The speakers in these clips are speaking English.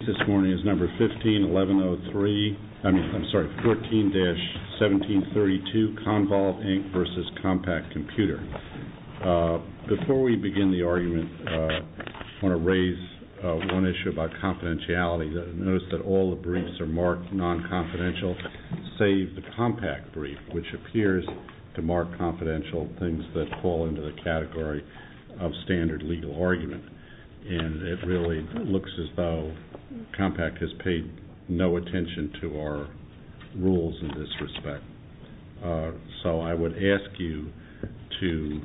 Before we begin the argument, I want to raise one issue about confidentiality. Notice that all the briefs are marked non-confidential, save the Compaq brief, which appears to mark confidential things that fall into the category of standard legal argument. It really looks as though Compaq has paid no attention to our rules in this respect. So I would ask you to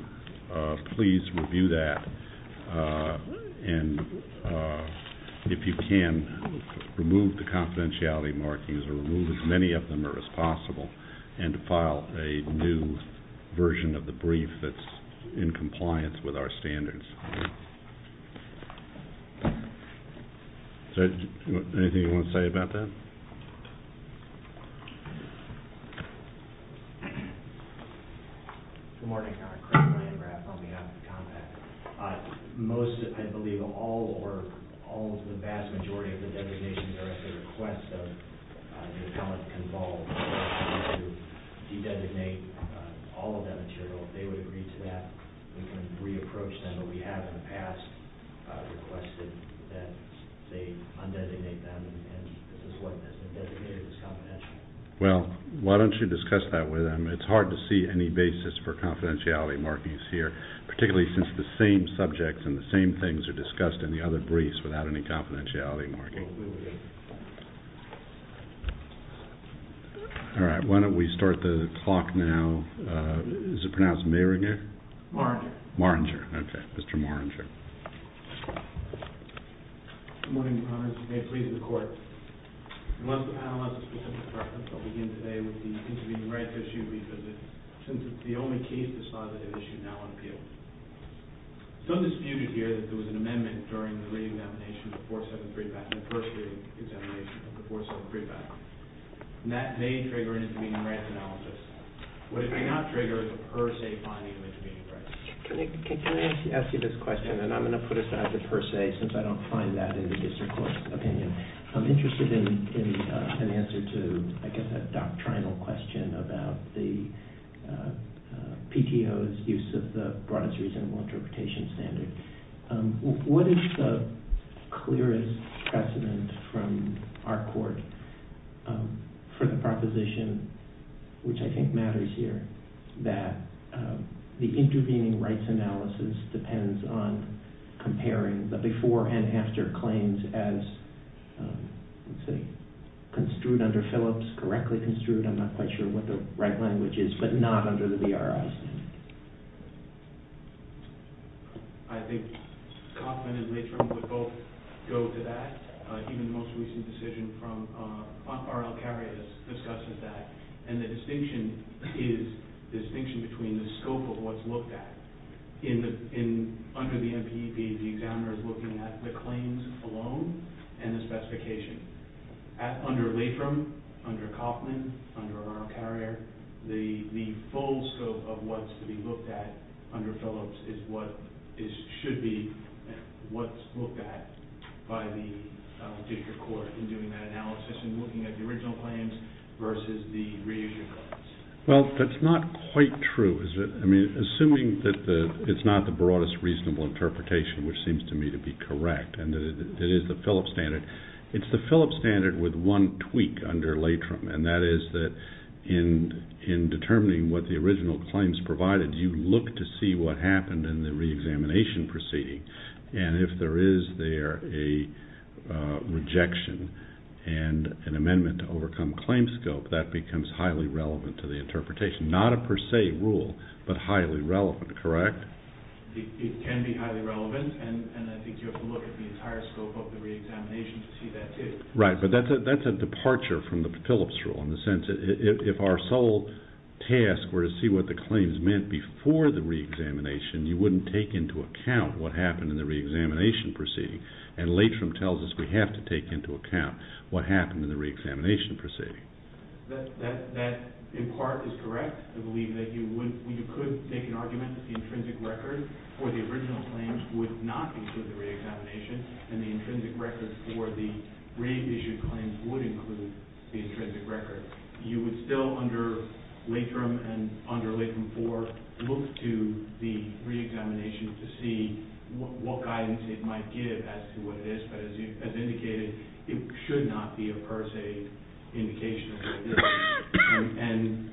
please review that and, if you can, remove the confidentiality markings, or remove as many of them as possible, and to file a new version of the brief that's in compliance with our standards. Anything you want to say about that? Good morning. Craig Ryan, RAF, on behalf of Compaq. Most, I believe, or almost the vast majority of the designations are at the request of Newcomer Convolve to de-designate all of that material. If they would agree to that, we can re-approach them, but we have in the past requested that they undesignate them, and this is what has been designated as confidential. Well, why don't you discuss that with them? It's hard to see any basis for confidentiality markings here, particularly since the same subjects and the same things are discussed in the other briefs without any confidentiality markings. All right, why don't we start the clock now. Is it pronounced Mayringer? Marringer. Marringer, okay. Mr. Marringer. Good morning, Your Honor. As you may please the Court. Unless the panel has a specific preference, I'll begin today with the intervening rights issue, because it's the only case this law that is issued now on appeal. It's undisputed here that there was an amendment during the re-examination of the 473 patent, the first re-examination of the 473 patent, and that may trigger an intervening rights analysis. But it may not trigger a per se finding of intervening rights. Can I ask you this question, and I'm going to put aside the per se since I don't find that in the district court's opinion. I'm interested in an answer to, I guess, a doctrinal question about the PTO's use of the broadest reasonable interpretation standard. What is the clearest precedent from our court for the proposition, which I think matters here, that the intervening rights analysis depends on comparing the before and after claims as, let's say, construed under Phillips, correctly construed. I'm not quite sure what the right language is, but not under the BRI standard. I think Kauffman and Lathram would both go to that. Even the most recent decision from R.L. Carrier discusses that. And the distinction is the distinction between the scope of what's looked at. Under the MP, the examiner is looking at the claims alone and the specification. Under Lathram, under Kauffman, under R.L. Carrier, the full scope of what's to be looked at under Phillips should be what's looked at by the district court in doing that analysis and looking at the original claims versus the reissued claims. Well, that's not quite true. Assuming that it's not the broadest reasonable interpretation, which seems to me to be correct, and that it is the Phillips standard. It's the Phillips standard with one tweak under Lathram, and that is that in determining what the original claims provided, you look to see what happened in the reexamination proceeding. And if there is there a rejection and an amendment to overcome claim scope, that becomes highly relevant to the interpretation. Not a per se rule, but highly relevant, correct? It can be highly relevant, and I think you have to look at the entire scope of the reexamination to see that, too. Right, but that's a departure from the Phillips rule in the sense that if our sole task were to see what the claims meant before the reexamination, you wouldn't take into account what happened in the reexamination proceeding. And Lathram tells us we have to take into account what happened in the reexamination proceeding. That, in part, is correct. I believe that you could make an argument that the intrinsic record for the original claims would not include the reexamination, and the intrinsic record for the reissued claims would include the intrinsic record. You would still, under Lathram and under Lathram IV, look to the reexamination to see what guidance it might give as to what it is. But as indicated, it should not be a per se indication of what it is. And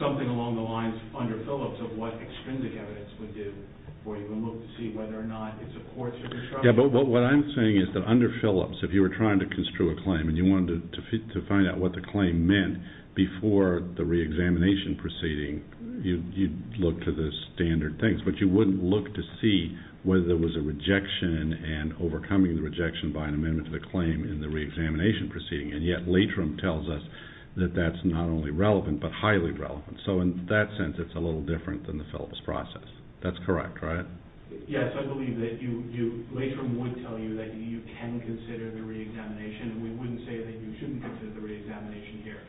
something along the lines under Phillips of what extrinsic evidence would do for you to look to see whether or not it supports your construction. Yes, but what I'm saying is that under Phillips, if you were trying to construe a claim and you wanted to find out what the claim meant before the reexamination proceeding, you'd look to the standard things, but you wouldn't look to see whether there was a rejection and overcoming the rejection by an amendment to the claim in the reexamination proceeding. And yet Lathram tells us that that's not only relevant but highly relevant. So in that sense, it's a little different than the Phillips process. That's correct, right? Yes, I believe that Lathram would tell you that you can consider the reexamination, and we wouldn't say that you shouldn't consider the reexamination here.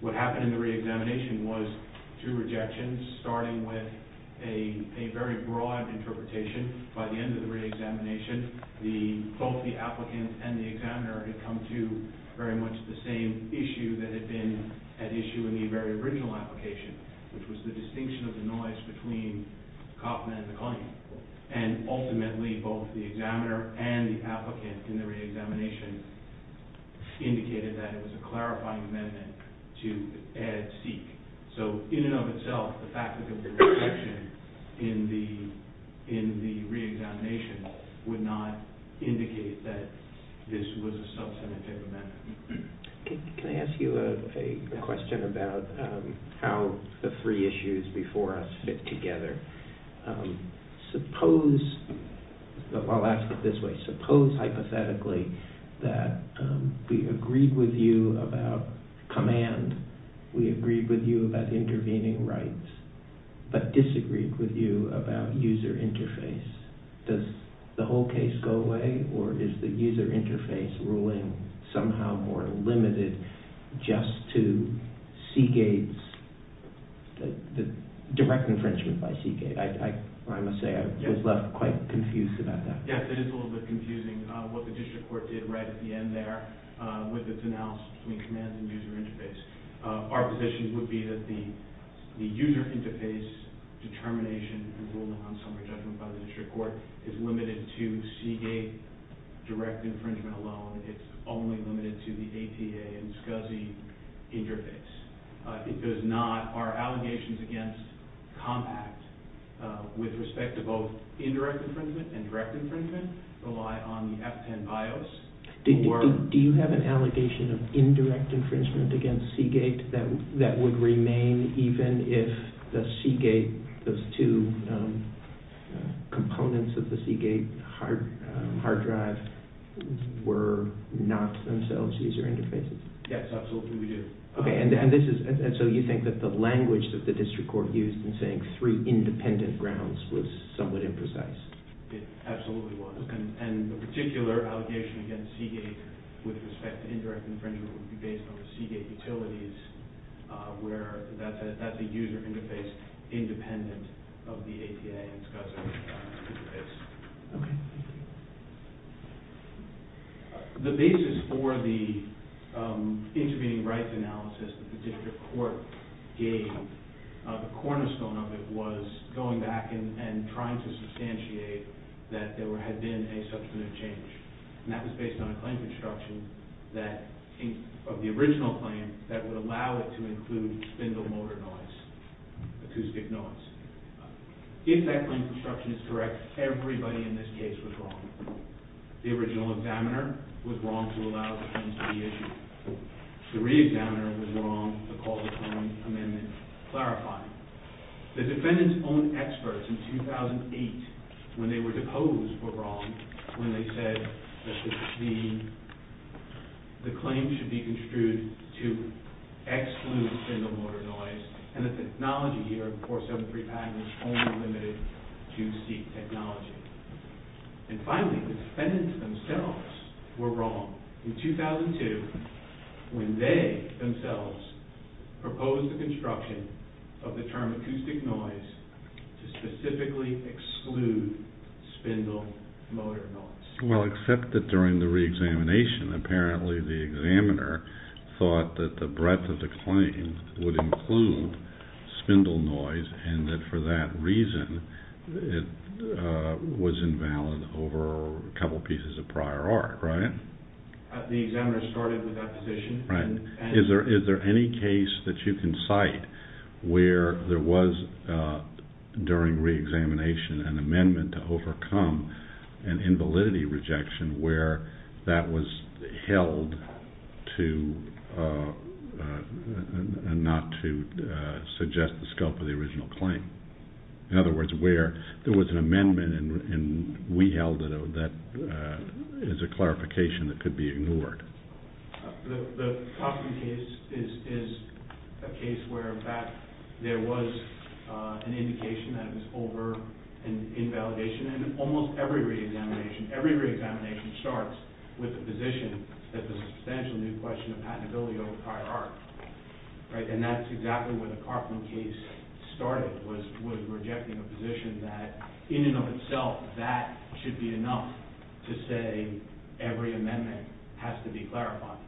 What happened in the reexamination was two rejections, starting with a very broad interpretation. By the end of the reexamination, both the applicant and the examiner had come to very much the same issue that had been at issue in the very original application, which was the distinction of the noise between Kaufman and the claim. And ultimately, both the examiner and the applicant in the reexamination indicated that it was a clarifying amendment to add seek. So in and of itself, the fact that there was a rejection in the reexamination would not indicate that this was a substantive amendment. Can I ask you a question about how the three issues before us fit together? I'll ask it this way. Suppose, hypothetically, that we agreed with you about command, we agreed with you about intervening rights, but disagreed with you about user interface. Does the whole case go away, or is the user interface ruling somehow more limited just to Seagate's direct infringement by Seagate? I must say, I was left quite confused about that. Yes, it is a little bit confusing, what the district court did right at the end there with its announcement between command and user interface. Our position would be that the user interface determination and ruling on summary judgment by the district court is limited to Seagate direct infringement alone. It's only limited to the APA and SCSI interface. It does not, our allegations against compact with respect to both indirect infringement and direct infringement rely on the F10 BIOS. Do you have an allegation of indirect infringement against Seagate that would remain even if the Seagate, those two components of the Seagate hard drive were not themselves user interfaces? Yes, absolutely we do. And so you think that the language that the district court used in saying three independent grounds was somewhat imprecise? It absolutely was. And the particular allegation against Seagate with respect to indirect infringement would be based on the Seagate utilities where that's a user interface independent of the APA and SCSI interface. The basis for the intervening rights analysis that the district court gave, the cornerstone of it was going back and trying to substantiate that there had been a substantive change. And that was based on a claim construction of the original claim that would allow it to include spindle motor noise, acoustic noise. If that claim construction is correct, everybody in this case was wrong. The original examiner was wrong to allow the claim to be issued. The re-examiner was wrong to call the claim amendment clarifying. The defendant's own experts in 2008 when they were deposed were wrong when they said that the claim should be construed to exclude spindle motor noise and the technology here in 473-5 was only limited to seat technology. And finally, the defendants themselves were wrong in 2002 when they themselves proposed the construction of the term acoustic noise to specifically exclude spindle motor noise. The re-examiner started with opposition. And we held that as a clarification that could be ignored. The Coffman case is a case where, in fact, there was an indication that it was over and in validation. And almost every re-examination, every re-examination starts with a position that there's a substantial new question of patentability over prior art. And that's exactly where the Coffman case started, was rejecting a position that, in and of itself, that should be enough to say every amendment has to be clarified.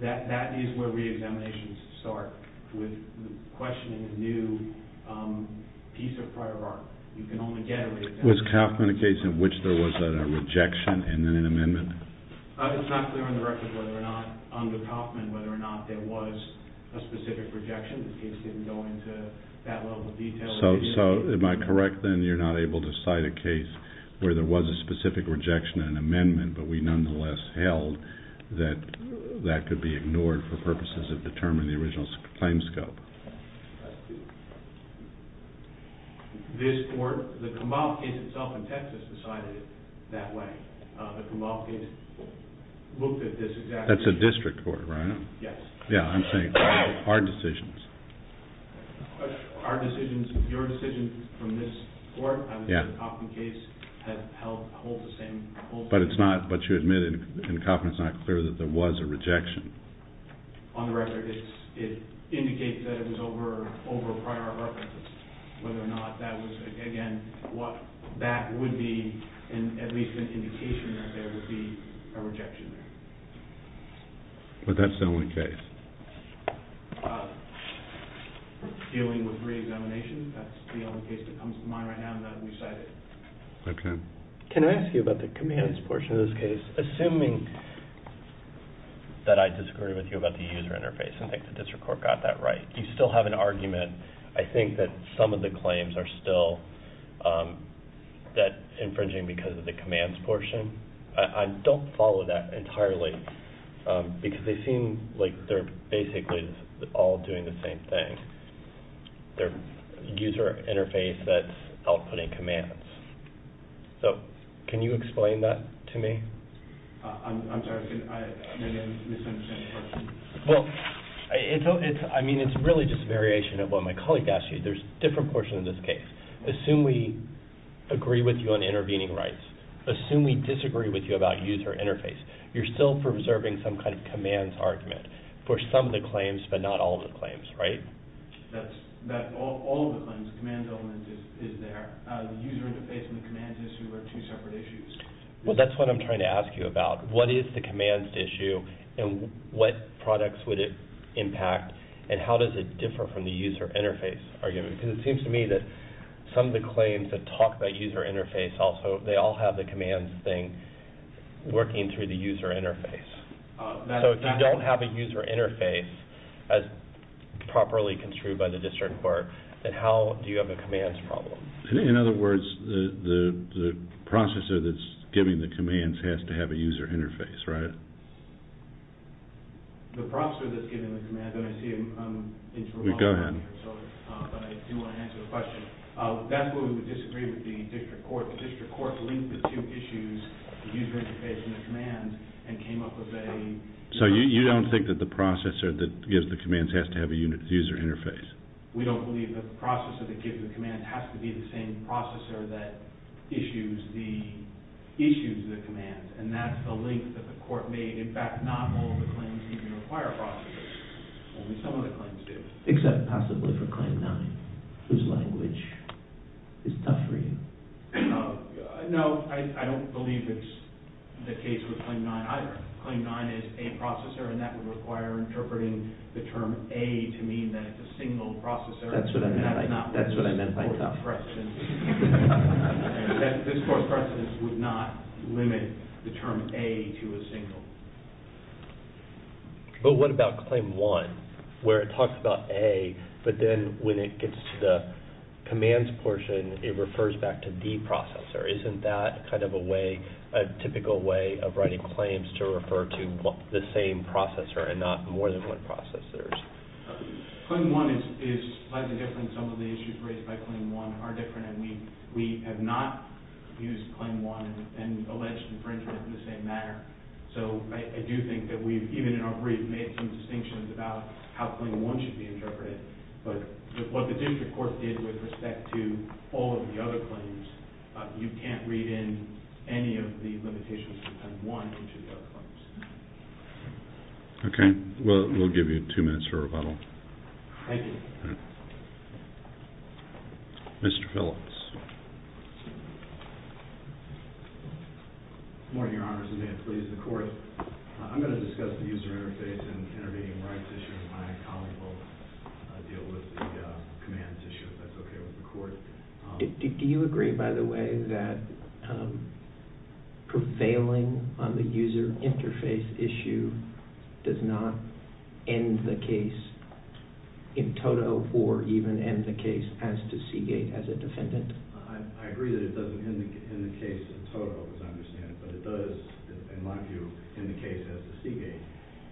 That is where re-examinations start, with questioning a new piece of prior art. You can only get a re-examination. Was Coffman a case in which there was a rejection and then an amendment? It's not clear on the record whether or not, under Coffman, whether or not there was a specific rejection. The case didn't go into that level of detail. So, am I correct, then, you're not able to cite a case where there was a specific rejection and amendment, but we nonetheless held that that could be ignored for purposes of determining the original claim scope? This court, the Kumbau case itself in Texas, decided it that way. The Kumbau case looked at this exactly the same way. That's a district court, right? Yes. Yeah, I'm saying, our decisions. Our decisions, your decisions from this court, I mean, the Coffman case, have held the same. But it's not, but you admit in Coffman, it's not clear that there was a rejection. On the record, it indicates that it was over prior references. Whether or not that was, again, what that would be, at least an indication that there would be a rejection there. But that's the only case. Dealing with re-examination, that's the only case that comes to mind right now, and that we cited. Okay. Can I ask you about the commands portion of this case? Assuming that I disagree with you about the user interface and think the district court got that right, do you still have an argument? I think that some of the claims are still that infringing because of the commands portion. I don't follow that entirely because they seem like they're basically all doing the same thing. Their user interface that's outputting commands. So, can you explain that to me? I'm sorry, I may have misunderstood your question. Well, I mean, it's really just a variation of what my colleague asked you. There's a different portion of this case. Assume we agree with you on intervening rights. Assume we disagree with you about user interface. You're still preserving some kind of commands argument for some of the claims but not all of the claims, right? That's all of the claims. The commands element is there. The user interface and the commands issue are two separate issues. Well, that's what I'm trying to ask you about. What is the commands issue, and what products would it impact, and how does it differ from the user interface argument? Because it seems to me that some of the claims that talk about user interface also, they all have the commands thing working through the user interface. So, if you don't have a user interface as properly construed by the district court, then how do you have a commands problem? In other words, the processor that's giving the commands has to have a user interface, right? The processor that's giving the commands, and I see I'm interrupting. Go ahead. But I do want to answer the question. That's where we would disagree with the district court. The district court linked the two issues, the user interface and the commands, and came up with a… So, you don't think that the processor that gives the commands has to have a user interface? We don't believe that the processor that gives the commands has to be the same processor that issues the commands. And that's the link that the court made. In fact, not all the claims even require a processor. Only some of the claims do. Except possibly for Claim 9, whose language is tough for you. No, I don't believe it's the case with Claim 9 either. Claim 9 is a processor, and that would require interpreting the term a to mean that it's a single processor. That's what I meant by tough. This court's precedent would not limit the term a to a single. But what about Claim 1, where it talks about a, but then when it gets to the commands portion, it refers back to the processor. Isn't that kind of a way, a typical way of writing claims to refer to the same processor and not more than one processor? Claim 1 is slightly different. Some of the issues raised by Claim 1 are different, and we have not used Claim 1 and alleged infringement in the same manner. So I do think that we've, even in our brief, made some distinctions about how Claim 1 should be interpreted. But what the district court did with respect to all of the other claims, you can't read in any of the limitations of Claim 1 into the other claims. Okay. We'll give you two minutes for rebuttal. Thank you. Mr. Phillips. Good morning, Your Honor. This is Dan Flees from the court. I'm going to discuss the user interface and intervening rights issue, and my colleague will deal with the commands issue, if that's okay with the court. Do you agree, by the way, that prevailing on the user interface issue does not end the case in toto or even end the case as to Seagate as a defendant? I agree that it doesn't end the case in toto, as I understand it, but it does, in my view, end the case as to Seagate.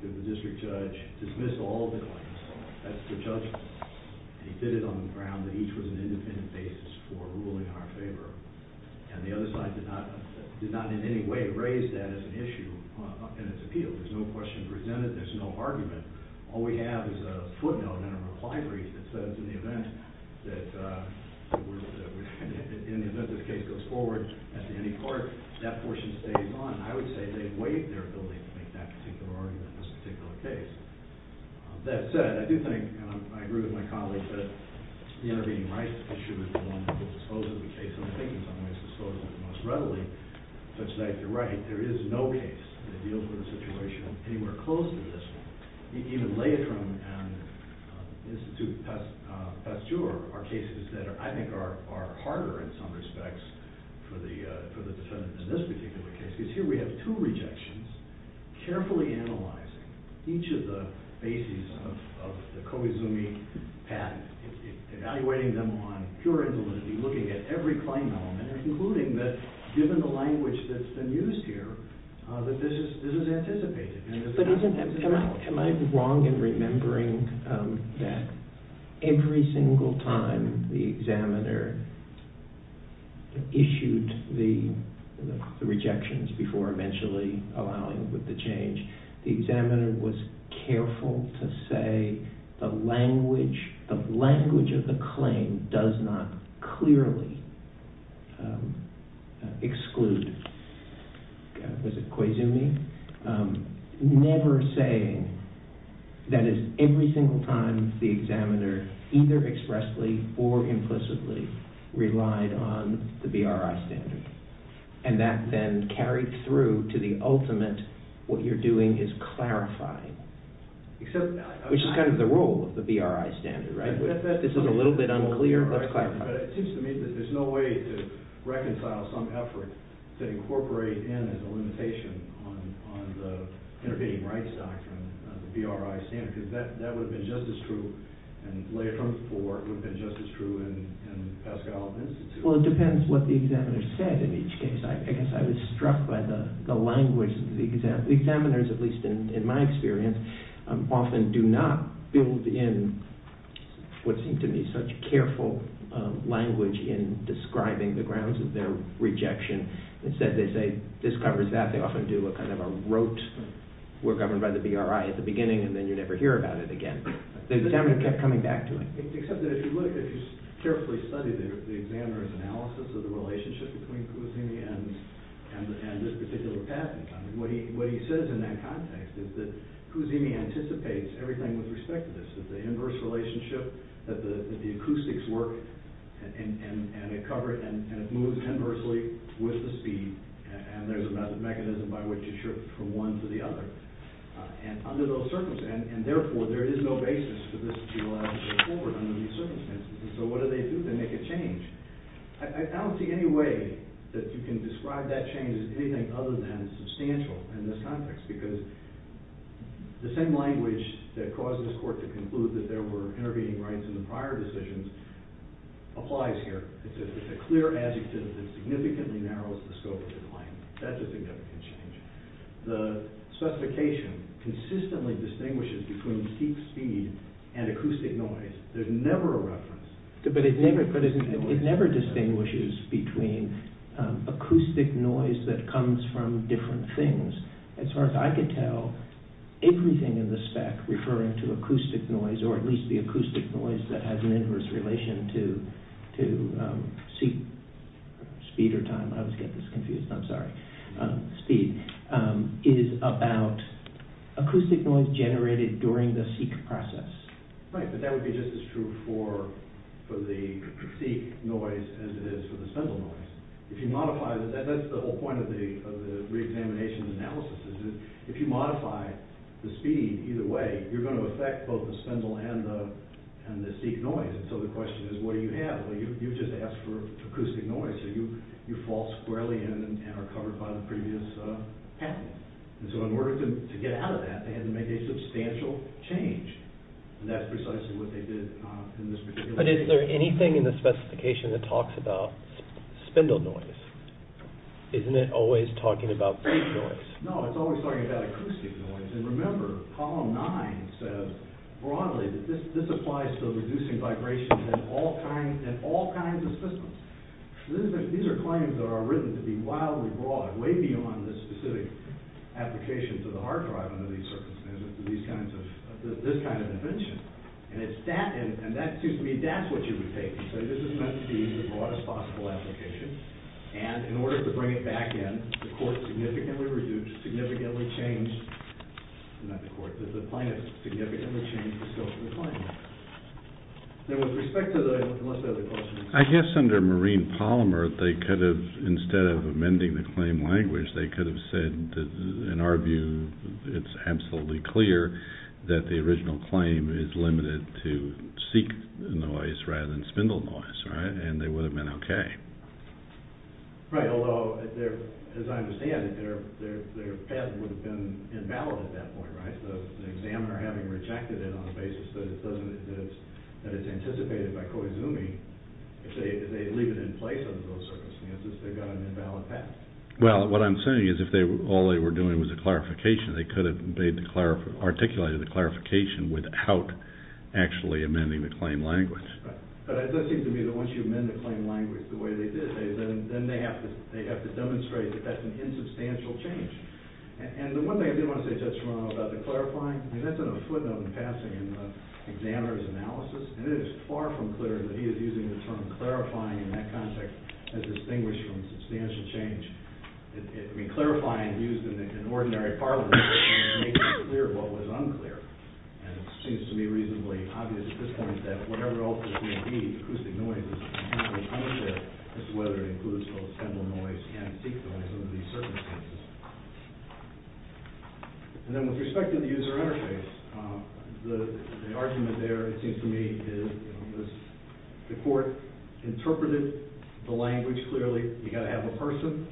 The district judge dismissed all the claims as to judgment, and he did it on the ground that each was an independent basis for ruling in our favor. And the other side did not in any way raise that as an issue in its appeal. There's no question presented. There's no argument. All we have is a footnote and a reply brief that says, in the event that this case goes forward at the ending court, that portion stays on. I would say they waive their ability to make that particular argument in this particular case. That said, I do think, and I agree with my colleague, that the intervening rights issue is the one that will dispose of the case, and I think in some ways disposes of it most readily, such that, if you're right, there is no case that deals with the situation anywhere close to this one. Even Leitrim and Institut Pasteur are cases that I think are harder in some respects for the defendant in this particular case, because here we have two rejections carefully analyzing each of the bases of the Kohizumi patent, evaluating them on pure intelligibility, looking at every claim element, and concluding that, given the language that's been used here, that this is anticipated. Am I wrong in remembering that every single time the examiner issued the rejections before eventually allowing for the change, the examiner was careful to say the language of the claim does not clearly exclude, was it Kohizumi? Never saying, that is, every single time the examiner either expressly or implicitly relied on the BRI standard, and that then carried through to the ultimate, what you're doing is clarifying, which is kind of the role of the BRI standard, right? This is a little bit unclear, but it seems to me that there's no way to reconcile some effort to incorporate in as a limitation on the intervening rights doctrine of the BRI standard, because that would have been just as true in Leitrim 4, it would have been just as true in Pascal Institute. Well, it depends what the examiner said in each case. I guess I was struck by the language. The examiners, at least in my experience, often do not build in what seemed to me such careful language in describing the grounds of their rejection. Instead, they say, this covers that. They often do a kind of a rote, we're governed by the BRI at the beginning, and then you never hear about it again. The examiner kept coming back to it. Except that if you look, if you carefully study the examiner's analysis of the relationship between Cusimi and this particular patent, what he says in that context is that Cusimi anticipates everything with respect to this, that the inverse relationship, that the acoustics work, and it moves inversely with the speed, and there's a mechanism by which it shifts from one to the other. And therefore, there is no basis for this to be allowed to go forward under these circumstances. And so what do they do? They make a change. I don't see any way that you can describe that change as anything other than substantial in this context, because the same language that caused this court to conclude that there were intervening rights in the prior decisions applies here. It's a clear adjective that significantly narrows the scope of the claim. That's a significant change. The specification consistently distinguishes between steep speed and acoustic noise. There's never a reference. But it never distinguishes between acoustic noise that comes from different things. As far as I can tell, everything in the spec referring to acoustic noise, or at least the acoustic noise that has an inverse relation to speed or time, I always get this confused, I'm sorry, speed, is about acoustic noise generated during the seek process. Right, but that would be just as true for the seek noise as it is for the spindle noise. That's the whole point of the reexamination analysis, is that if you modify the speed either way, you're going to affect both the spindle and the seek noise. So the question is, what do you have? You just asked for acoustic noise. You fall squarely in and are covered by the previous path. So in order to get out of that, they had to make a substantial change. And that's precisely what they did in this particular case. But is there anything in the specification that talks about spindle noise? Isn't it always talking about seek noise? And remember, Column 9 says broadly that this applies to reducing vibration in all kinds of systems. These are claims that are written to be wildly broad, way beyond the specific application to the hard drive under these circumstances for this kind of invention. And that's what you would take. This is meant to be the broadest possible application. And in order to bring it back in, the court significantly reduced, significantly changed, not the court, the plaintiff significantly changed the scope of the claim. I guess under marine polymer, they could have, instead of amending the claim language, they could have said, in our view, it's absolutely clear that the original claim is limited to seek noise rather than spindle noise, right? And they would have been okay. Right, although, as I understand it, their path would have been invalid at that point, right? The examiner having rejected it on the basis that it's anticipated by Koizumi, if they leave it in place under those circumstances, they've got an invalid path. Well, what I'm saying is if all they were doing was a clarification, they could have articulated the clarification without actually amending the claim language. But it does seem to me that once you amend the claim language the way they did, then they have to demonstrate that that's an insubstantial change. And the one thing I did want to say to Judge Romano about the clarifying, and that's in a footnote in passing in the examiner's analysis, and it is far from clear that he is using the term clarifying in that context as distinguished from substantial change. I mean, clarifying used in ordinary parlance would make it clear what was unclear, and it seems to me reasonably obvious at this point that whatever else there may be, acoustic noise is not going to come into it as to whether it includes both spindle noise and seek noise under these circumstances. And then with respect to the user interface, the argument there, it seems to me, is the court interpreted the language clearly. You've got to have a person,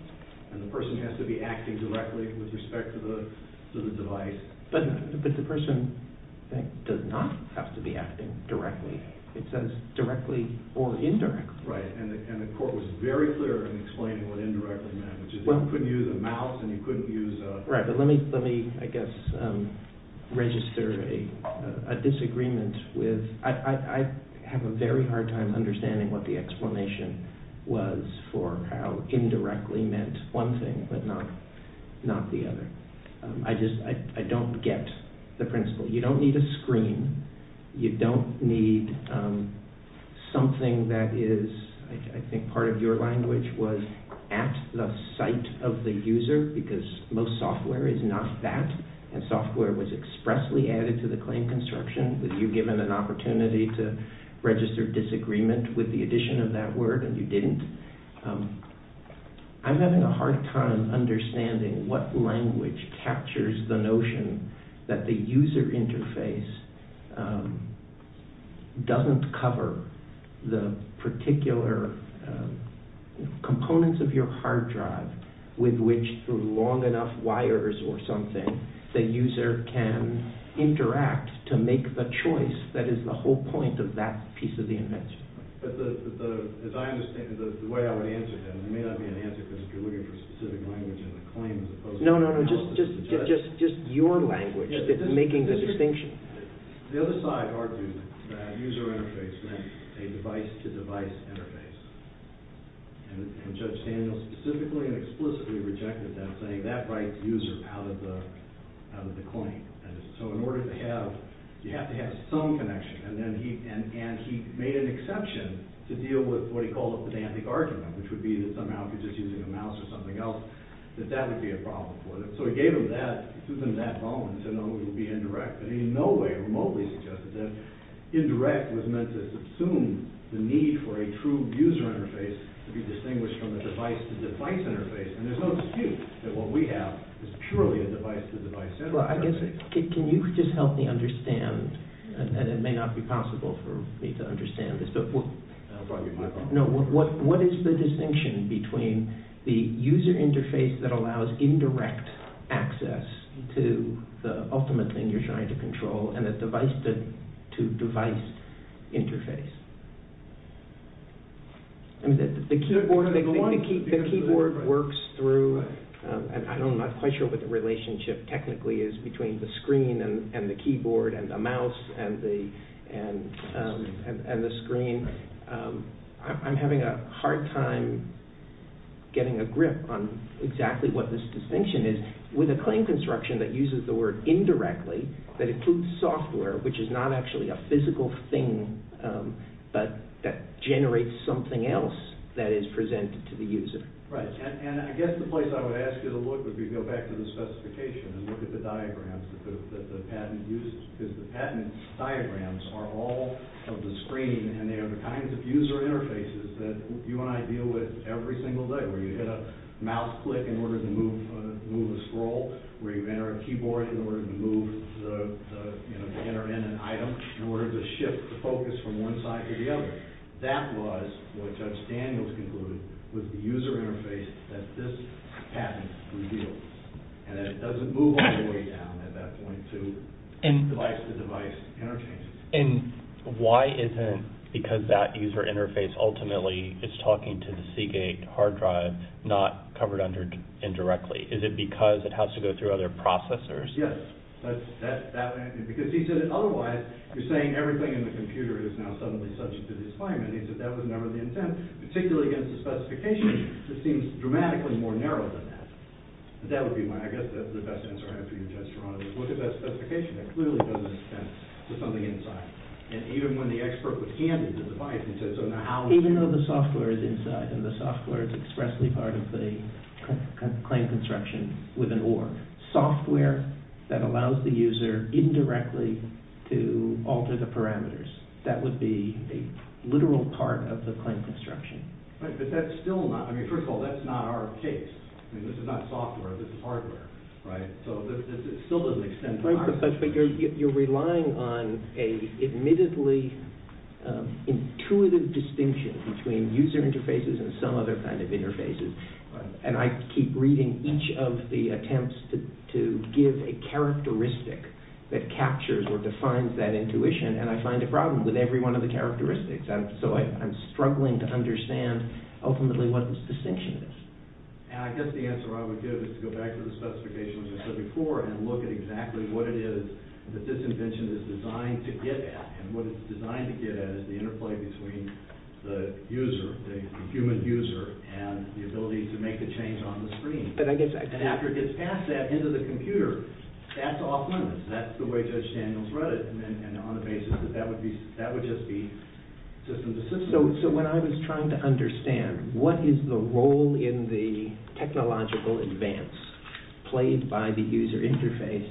and the person has to be acting directly with respect to the device. But the person does not have to be acting directly. It says directly or indirectly. Right. And the court was very clear in explaining what indirectly meant, which is you couldn't use a mouse and you couldn't use a… I think part of your language was at the site of the user, because most software is not that, and software was expressly added to the claim construction. Were you given an opportunity to register disagreement with the addition of that word and you didn't? I'm having a hard time understanding what language captures the notion that the user interface doesn't cover the particular components of your hard drive, with which, through long enough wires or something, the user can interact to make the choice that is the whole point of that piece of the invention. But the way I would answer that, and it may not be an answer because you're looking for specific language in the claim as opposed to… No, no, no, just your language that's making the distinction. The other side argued that user interface meant a device-to-device interface, and Judge Daniels specifically and explicitly rejected that, saying that writes user out of the claim. So in order to have… you have to have some connection, and he made an exception to deal with what he called a pedantic argument, which would be that somehow if you're just using a mouse or something else, that that would be a problem for them. So he gave them that, threw them that bone, and said, no, it would be indirect. But he in no way remotely suggested that indirect was meant to subsume the need for a true user interface to be distinguished from a device-to-device interface, and there's no excuse that what we have is purely a device-to-device interface. Can you just help me understand, and it may not be possible for me to understand this, but what is the distinction between the user interface that allows indirect access to the ultimate thing you're trying to control and a device-to-device interface? The keyboard works through, and I'm not quite sure what the relationship technically is between the screen and the keyboard and the mouse and the screen. I'm having a hard time getting a grip on exactly what this distinction is. With a claim construction that uses the word indirectly, that includes software, which is not actually a physical thing, but that generates something else that is presented to the user. Right, and I guess the place I would ask you to look would be to go back to the specification and look at the diagrams that the patent uses, because the patent diagrams are all of the screen, and they are the kinds of user interfaces that you and I deal with every single day, where you hit a mouse click in order to move a scroll, where you enter a keyboard in order to enter in an item, in order to shift the focus from one side to the other. That was what Judge Daniels concluded was the user interface that this patent reveals, and that it doesn't move all the way down at that point to device-to-device interchanges. And why isn't it because that user interface ultimately is talking to the Seagate hard drive, not covered indirectly? Is it because it has to go through other processors? Yes. Because he said that otherwise, you're saying everything in the computer is now suddenly subject to this claim, and he said that was never the intent, particularly against the specification that seems dramatically more narrow than that. That would be my, I guess, the best answer I have for you, Judge Geronimo. Look at that specification. That clearly doesn't extend to something inside. And even when the expert was handed the device, he said, so now how— Even though the software is inside, and the software is expressly part of the claim construction with an org, software that allows the user indirectly to alter the parameters, that would be a literal part of the claim construction. But that's still not—I mean, first of all, that's not our case. I mean, this is not software. This is hardware, right? So it still doesn't extend to hardware. But you're relying on an admittedly intuitive distinction between user interfaces and some other kind of interfaces, and I keep reading each of the attempts to give a characteristic that captures or defines that intuition, and I find a problem with every one of the characteristics. So I'm struggling to understand, ultimately, what this distinction is. And I guess the answer I would give is to go back to the specification, as I said before, and look at exactly what it is that this invention is designed to get at. And what it's designed to get at is the interplay between the user, the human user, and the ability to make a change on the screen. And after it gets past that, into the computer, that's off-limits. That's the way Judge Daniels read it, and on the basis that that would just be system-to-system. So when I was trying to understand what is the role in the technological advance played by the user interface,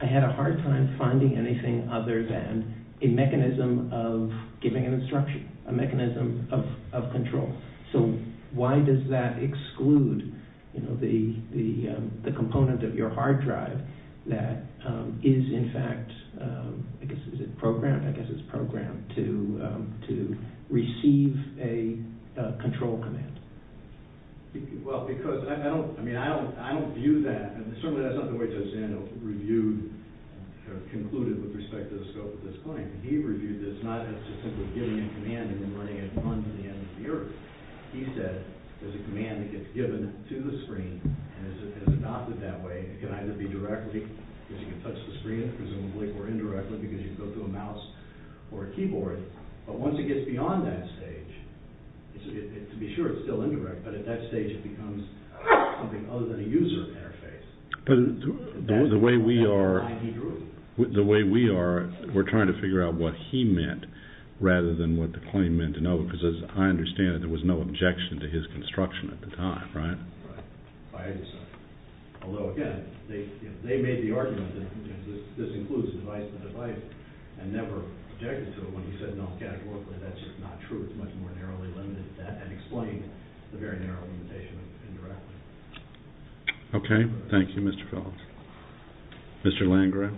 I had a hard time finding anything other than a mechanism of giving an instruction, a mechanism of control. So why does that exclude the component of your hard drive that is, in fact—I guess it's programmed to receive a control command? Well, because—I mean, I don't view that—and certainly that's not the way Judge Daniels reviewed or concluded with respect to the scope of this point. He reviewed this not as just simply giving a command and then running it on to the end of the earth. He said there's a command that gets given to the screen and is adopted that way. It can either be directly, because you can touch the screen, presumably, or indirectly, because you go to a mouse or a keyboard. But once it gets beyond that stage, to be sure it's still indirect, but at that stage it becomes something other than a user interface. But the way we are, we're trying to figure out what he meant rather than what the claimant meant, because as I understand it, there was no objection to his construction at the time, right? Although, again, they made the argument that this includes a device and a device, and never objected to it when he said, no, categorically that's just not true. It's much more narrowly limited than that, and explained the very narrow limitation of indirectly. Okay. Thank you, Mr. Phillips. Mr. Landgraf?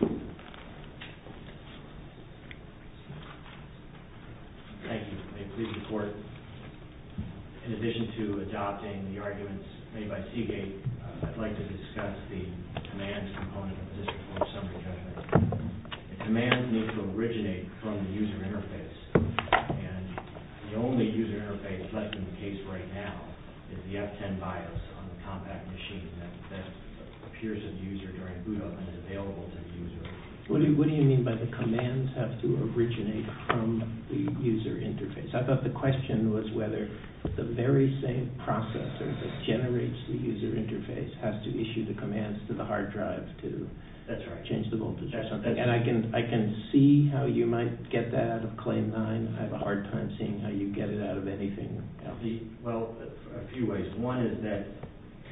Thank you. In addition to adopting the arguments made by Seagate, I'd like to discuss the commands component of this report. The commands need to originate from the user interface, and the only user interface left in the case right now is the F10 BIOS on the compact machine that appears as a user during boot up and is available to the user. What do you mean by the commands have to originate from the user interface? I thought the question was whether the very same processor that generates the user interface has to issue the commands to the hard drive to change the voltage or something. And I can see how you might get that out of Claim 9. I have a hard time seeing how you get it out of anything else. Well, a few ways. One is that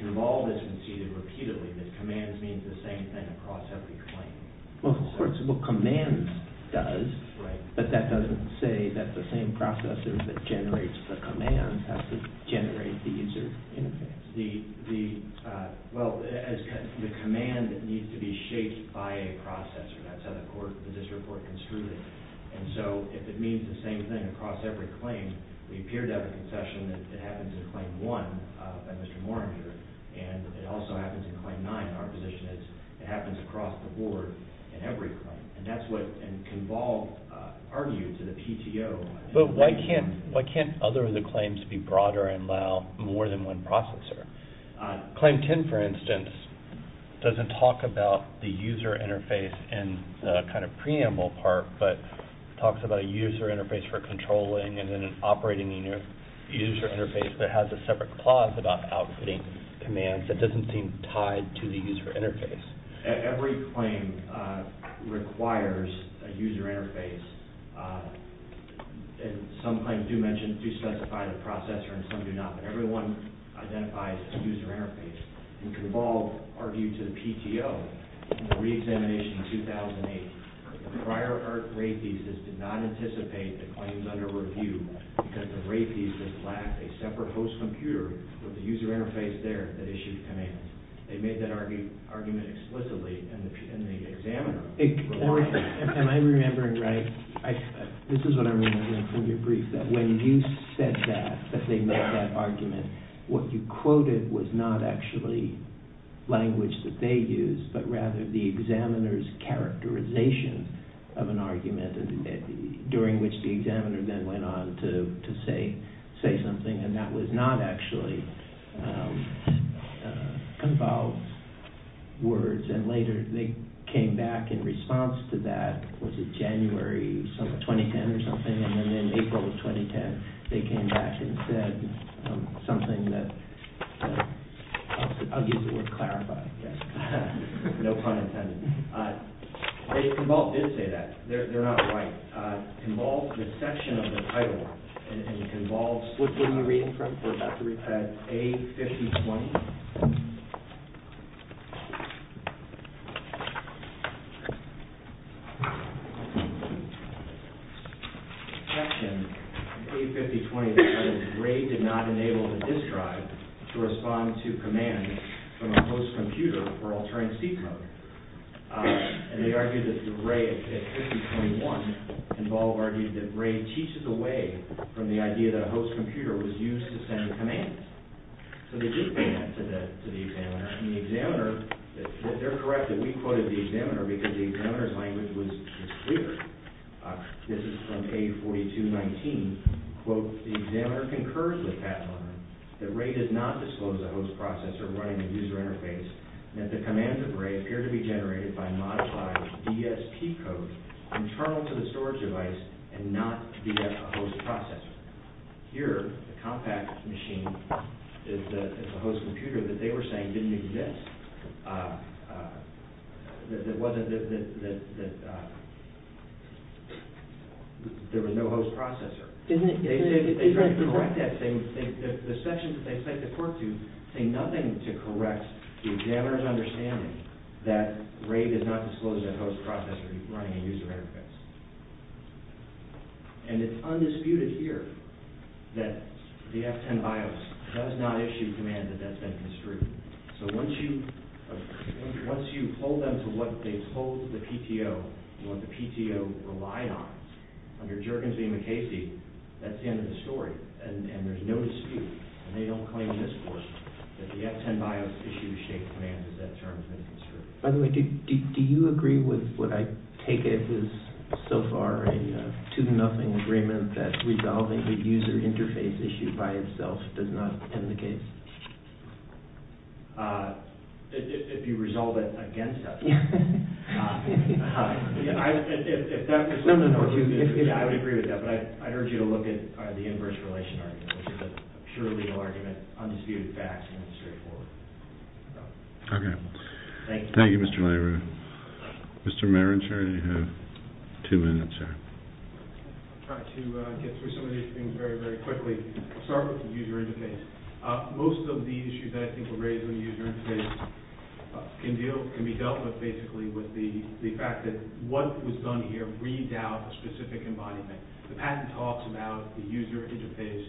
if all this is repeated, the commands mean the same thing across every claim. Well, of course, what commands does, but that doesn't say that the same processor that generates the commands has to generate the user interface. Well, the command needs to be shaped by a processor. That's how this report construed it. And so if it means the same thing across every claim, we appear to have a concession that it happens in Claim 1 by Mr. Moringer, and it also happens in Claim 9. Our position is it happens across the board in every claim, and that's what Convolve argued to the PTO. But why can't other of the claims be broader and allow more than one processor? Claim 10, for instance, doesn't talk about the user interface and the kind of preamble part, but talks about a user interface for controlling and then an operating user interface that has a separate clause about outputting commands that doesn't seem tied to the user interface. Every claim requires a user interface, and some claims do specify the processor and some do not, but everyone identifies a user interface. And Convolve argued to the PTO in the re-examination in 2008 that the prior RAFIS did not anticipate the claims under review because the RAFIS lacked a separate host computer with a user interface there that issued commands. They made that argument explicitly in the examiner report. Am I remembering right? This is what I'm remembering from your brief, that when you said that, that they made that argument, what you quoted was not actually language that they used, but rather the examiner's characterization of an argument during which the examiner then went on to say something, and that was not actually Convolve's words. And later they came back in response to that, was it January 2010 or something, and then in April of 2010 they came back and said something that, I'll use the word clarify, no pun intended. Convolve did say that, they're not right. Convolve's misception of the title, and Convolve's, which one are you reading from? We're about to read from A5020. The misception of A5020 was that Bray did not enable the disk drive to respond to commands from a host computer for altering seat mode. And they argued that Bray at A5021, Convolve argued that Bray teaches away from the idea that a host computer was used to send commands. So they did bring that to the examiner, and the examiner, they're correct that we quoted the examiner because the examiner's language was clear. This is from A4219, quote, the examiner concurs with Pat Lerner that Bray did not disclose a host processor running a user interface, and that the commands of Bray appear to be generated by modified DSP code internal to the storage device and not via a host processor. Here, the compact machine is a host computer that they were saying didn't exist, that there was no host processor. They tried to correct that. The sections that they sent the court to say nothing to correct the examiner's understanding that Bray did not disclose a host processor running a user interface. And it's undisputed here that the F10 BIOS does not issue commands that that's been construed. So once you hold them to what they told the PTO, what the PTO relied on, under Juergensen and MacCasey, that's the end of the story. And there's no dispute, and they don't claim in this court that the F10 BIOS issues shaped commands as that term has been construed. By the way, do you agree with what I take as, so far, a two-to-nothing agreement that resolving the user interface issue by itself does not end the case? If you resolve it against us. I would agree with that, but I urge you to look at the inverse relation argument, which is a purely argument, undisputed facts, and straightforward. Okay. Thank you, Mr. Laird. Mr. Marancher, you have two minutes. I'll try to get through some of these things very, very quickly. I'll start with the user interface. Most of the issues that I think were raised on the user interface can be dealt with, basically, with the fact that what was done here read out a specific embodiment. The patent talks about the user interface,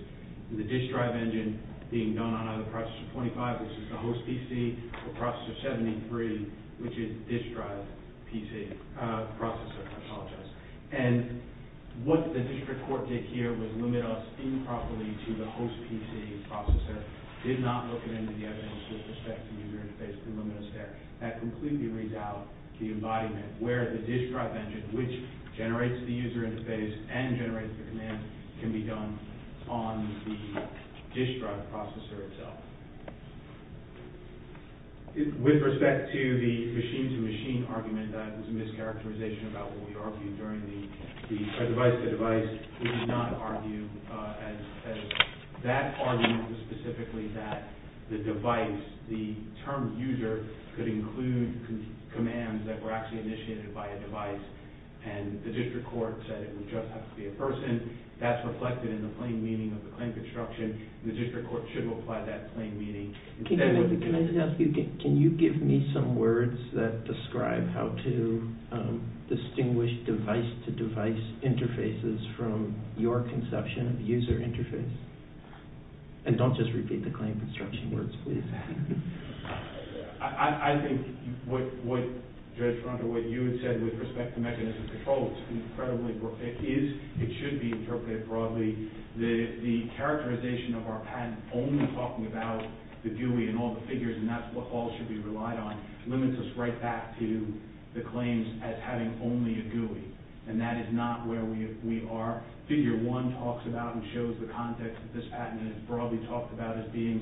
the disk drive engine being done on either processor 25, which is the host PC, or processor 73, which is the disk drive processor. I apologize. And what the district court did here was limit us improperly to the host PC processor, did not look at any of the evidence with respect to user interface, and limit us there. That completely reads out the embodiment, where the disk drive engine, which generates the user interface and generates the command, can be done on the disk drive processor itself. With respect to the machine-to-machine argument, that was a mischaracterization about what we argued during the device-to-device. We did not argue as that argument was specifically that the device, the term user, could include commands that were actually initiated by a device, and the district court said it would just have to be a person. That's reflected in the plain meaning of the claim construction. The district court should apply that plain meaning. Can I ask you, can you give me some words that describe how to distinguish device-to-device interfaces from your conception of user interface? And don't just repeat the claim construction words, please. I think what Judge Rundle, what you had said with respect to mechanisms of control, it should be interpreted broadly. The characterization of our patent only talking about the GUI and all the figures, and that's what all should be relied on, limits us right back to the claims as having only a GUI. And that is not where we are. Figure one talks about and shows the context of this patent, and it's broadly talked about as being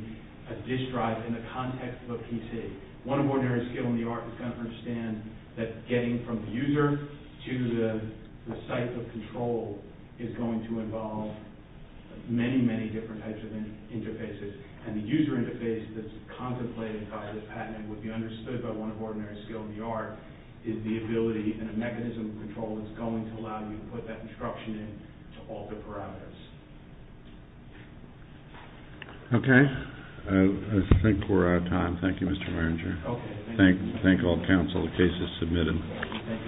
a disk drive in the context of a PC. One of ordinary skill in the art is going to understand that getting from the user to the site of control is going to involve many, many different types of interfaces. And the user interface that's contemplated by the patent and would be understood by one of ordinary skill in the art is the ability and the mechanism of control that's going to allow you to put that instruction in to alter parameters. Okay. I think we're out of time. Thank you, Mr. Merringer. Okay. Thank you. Thank all counsel. The case is submitted. Thank you.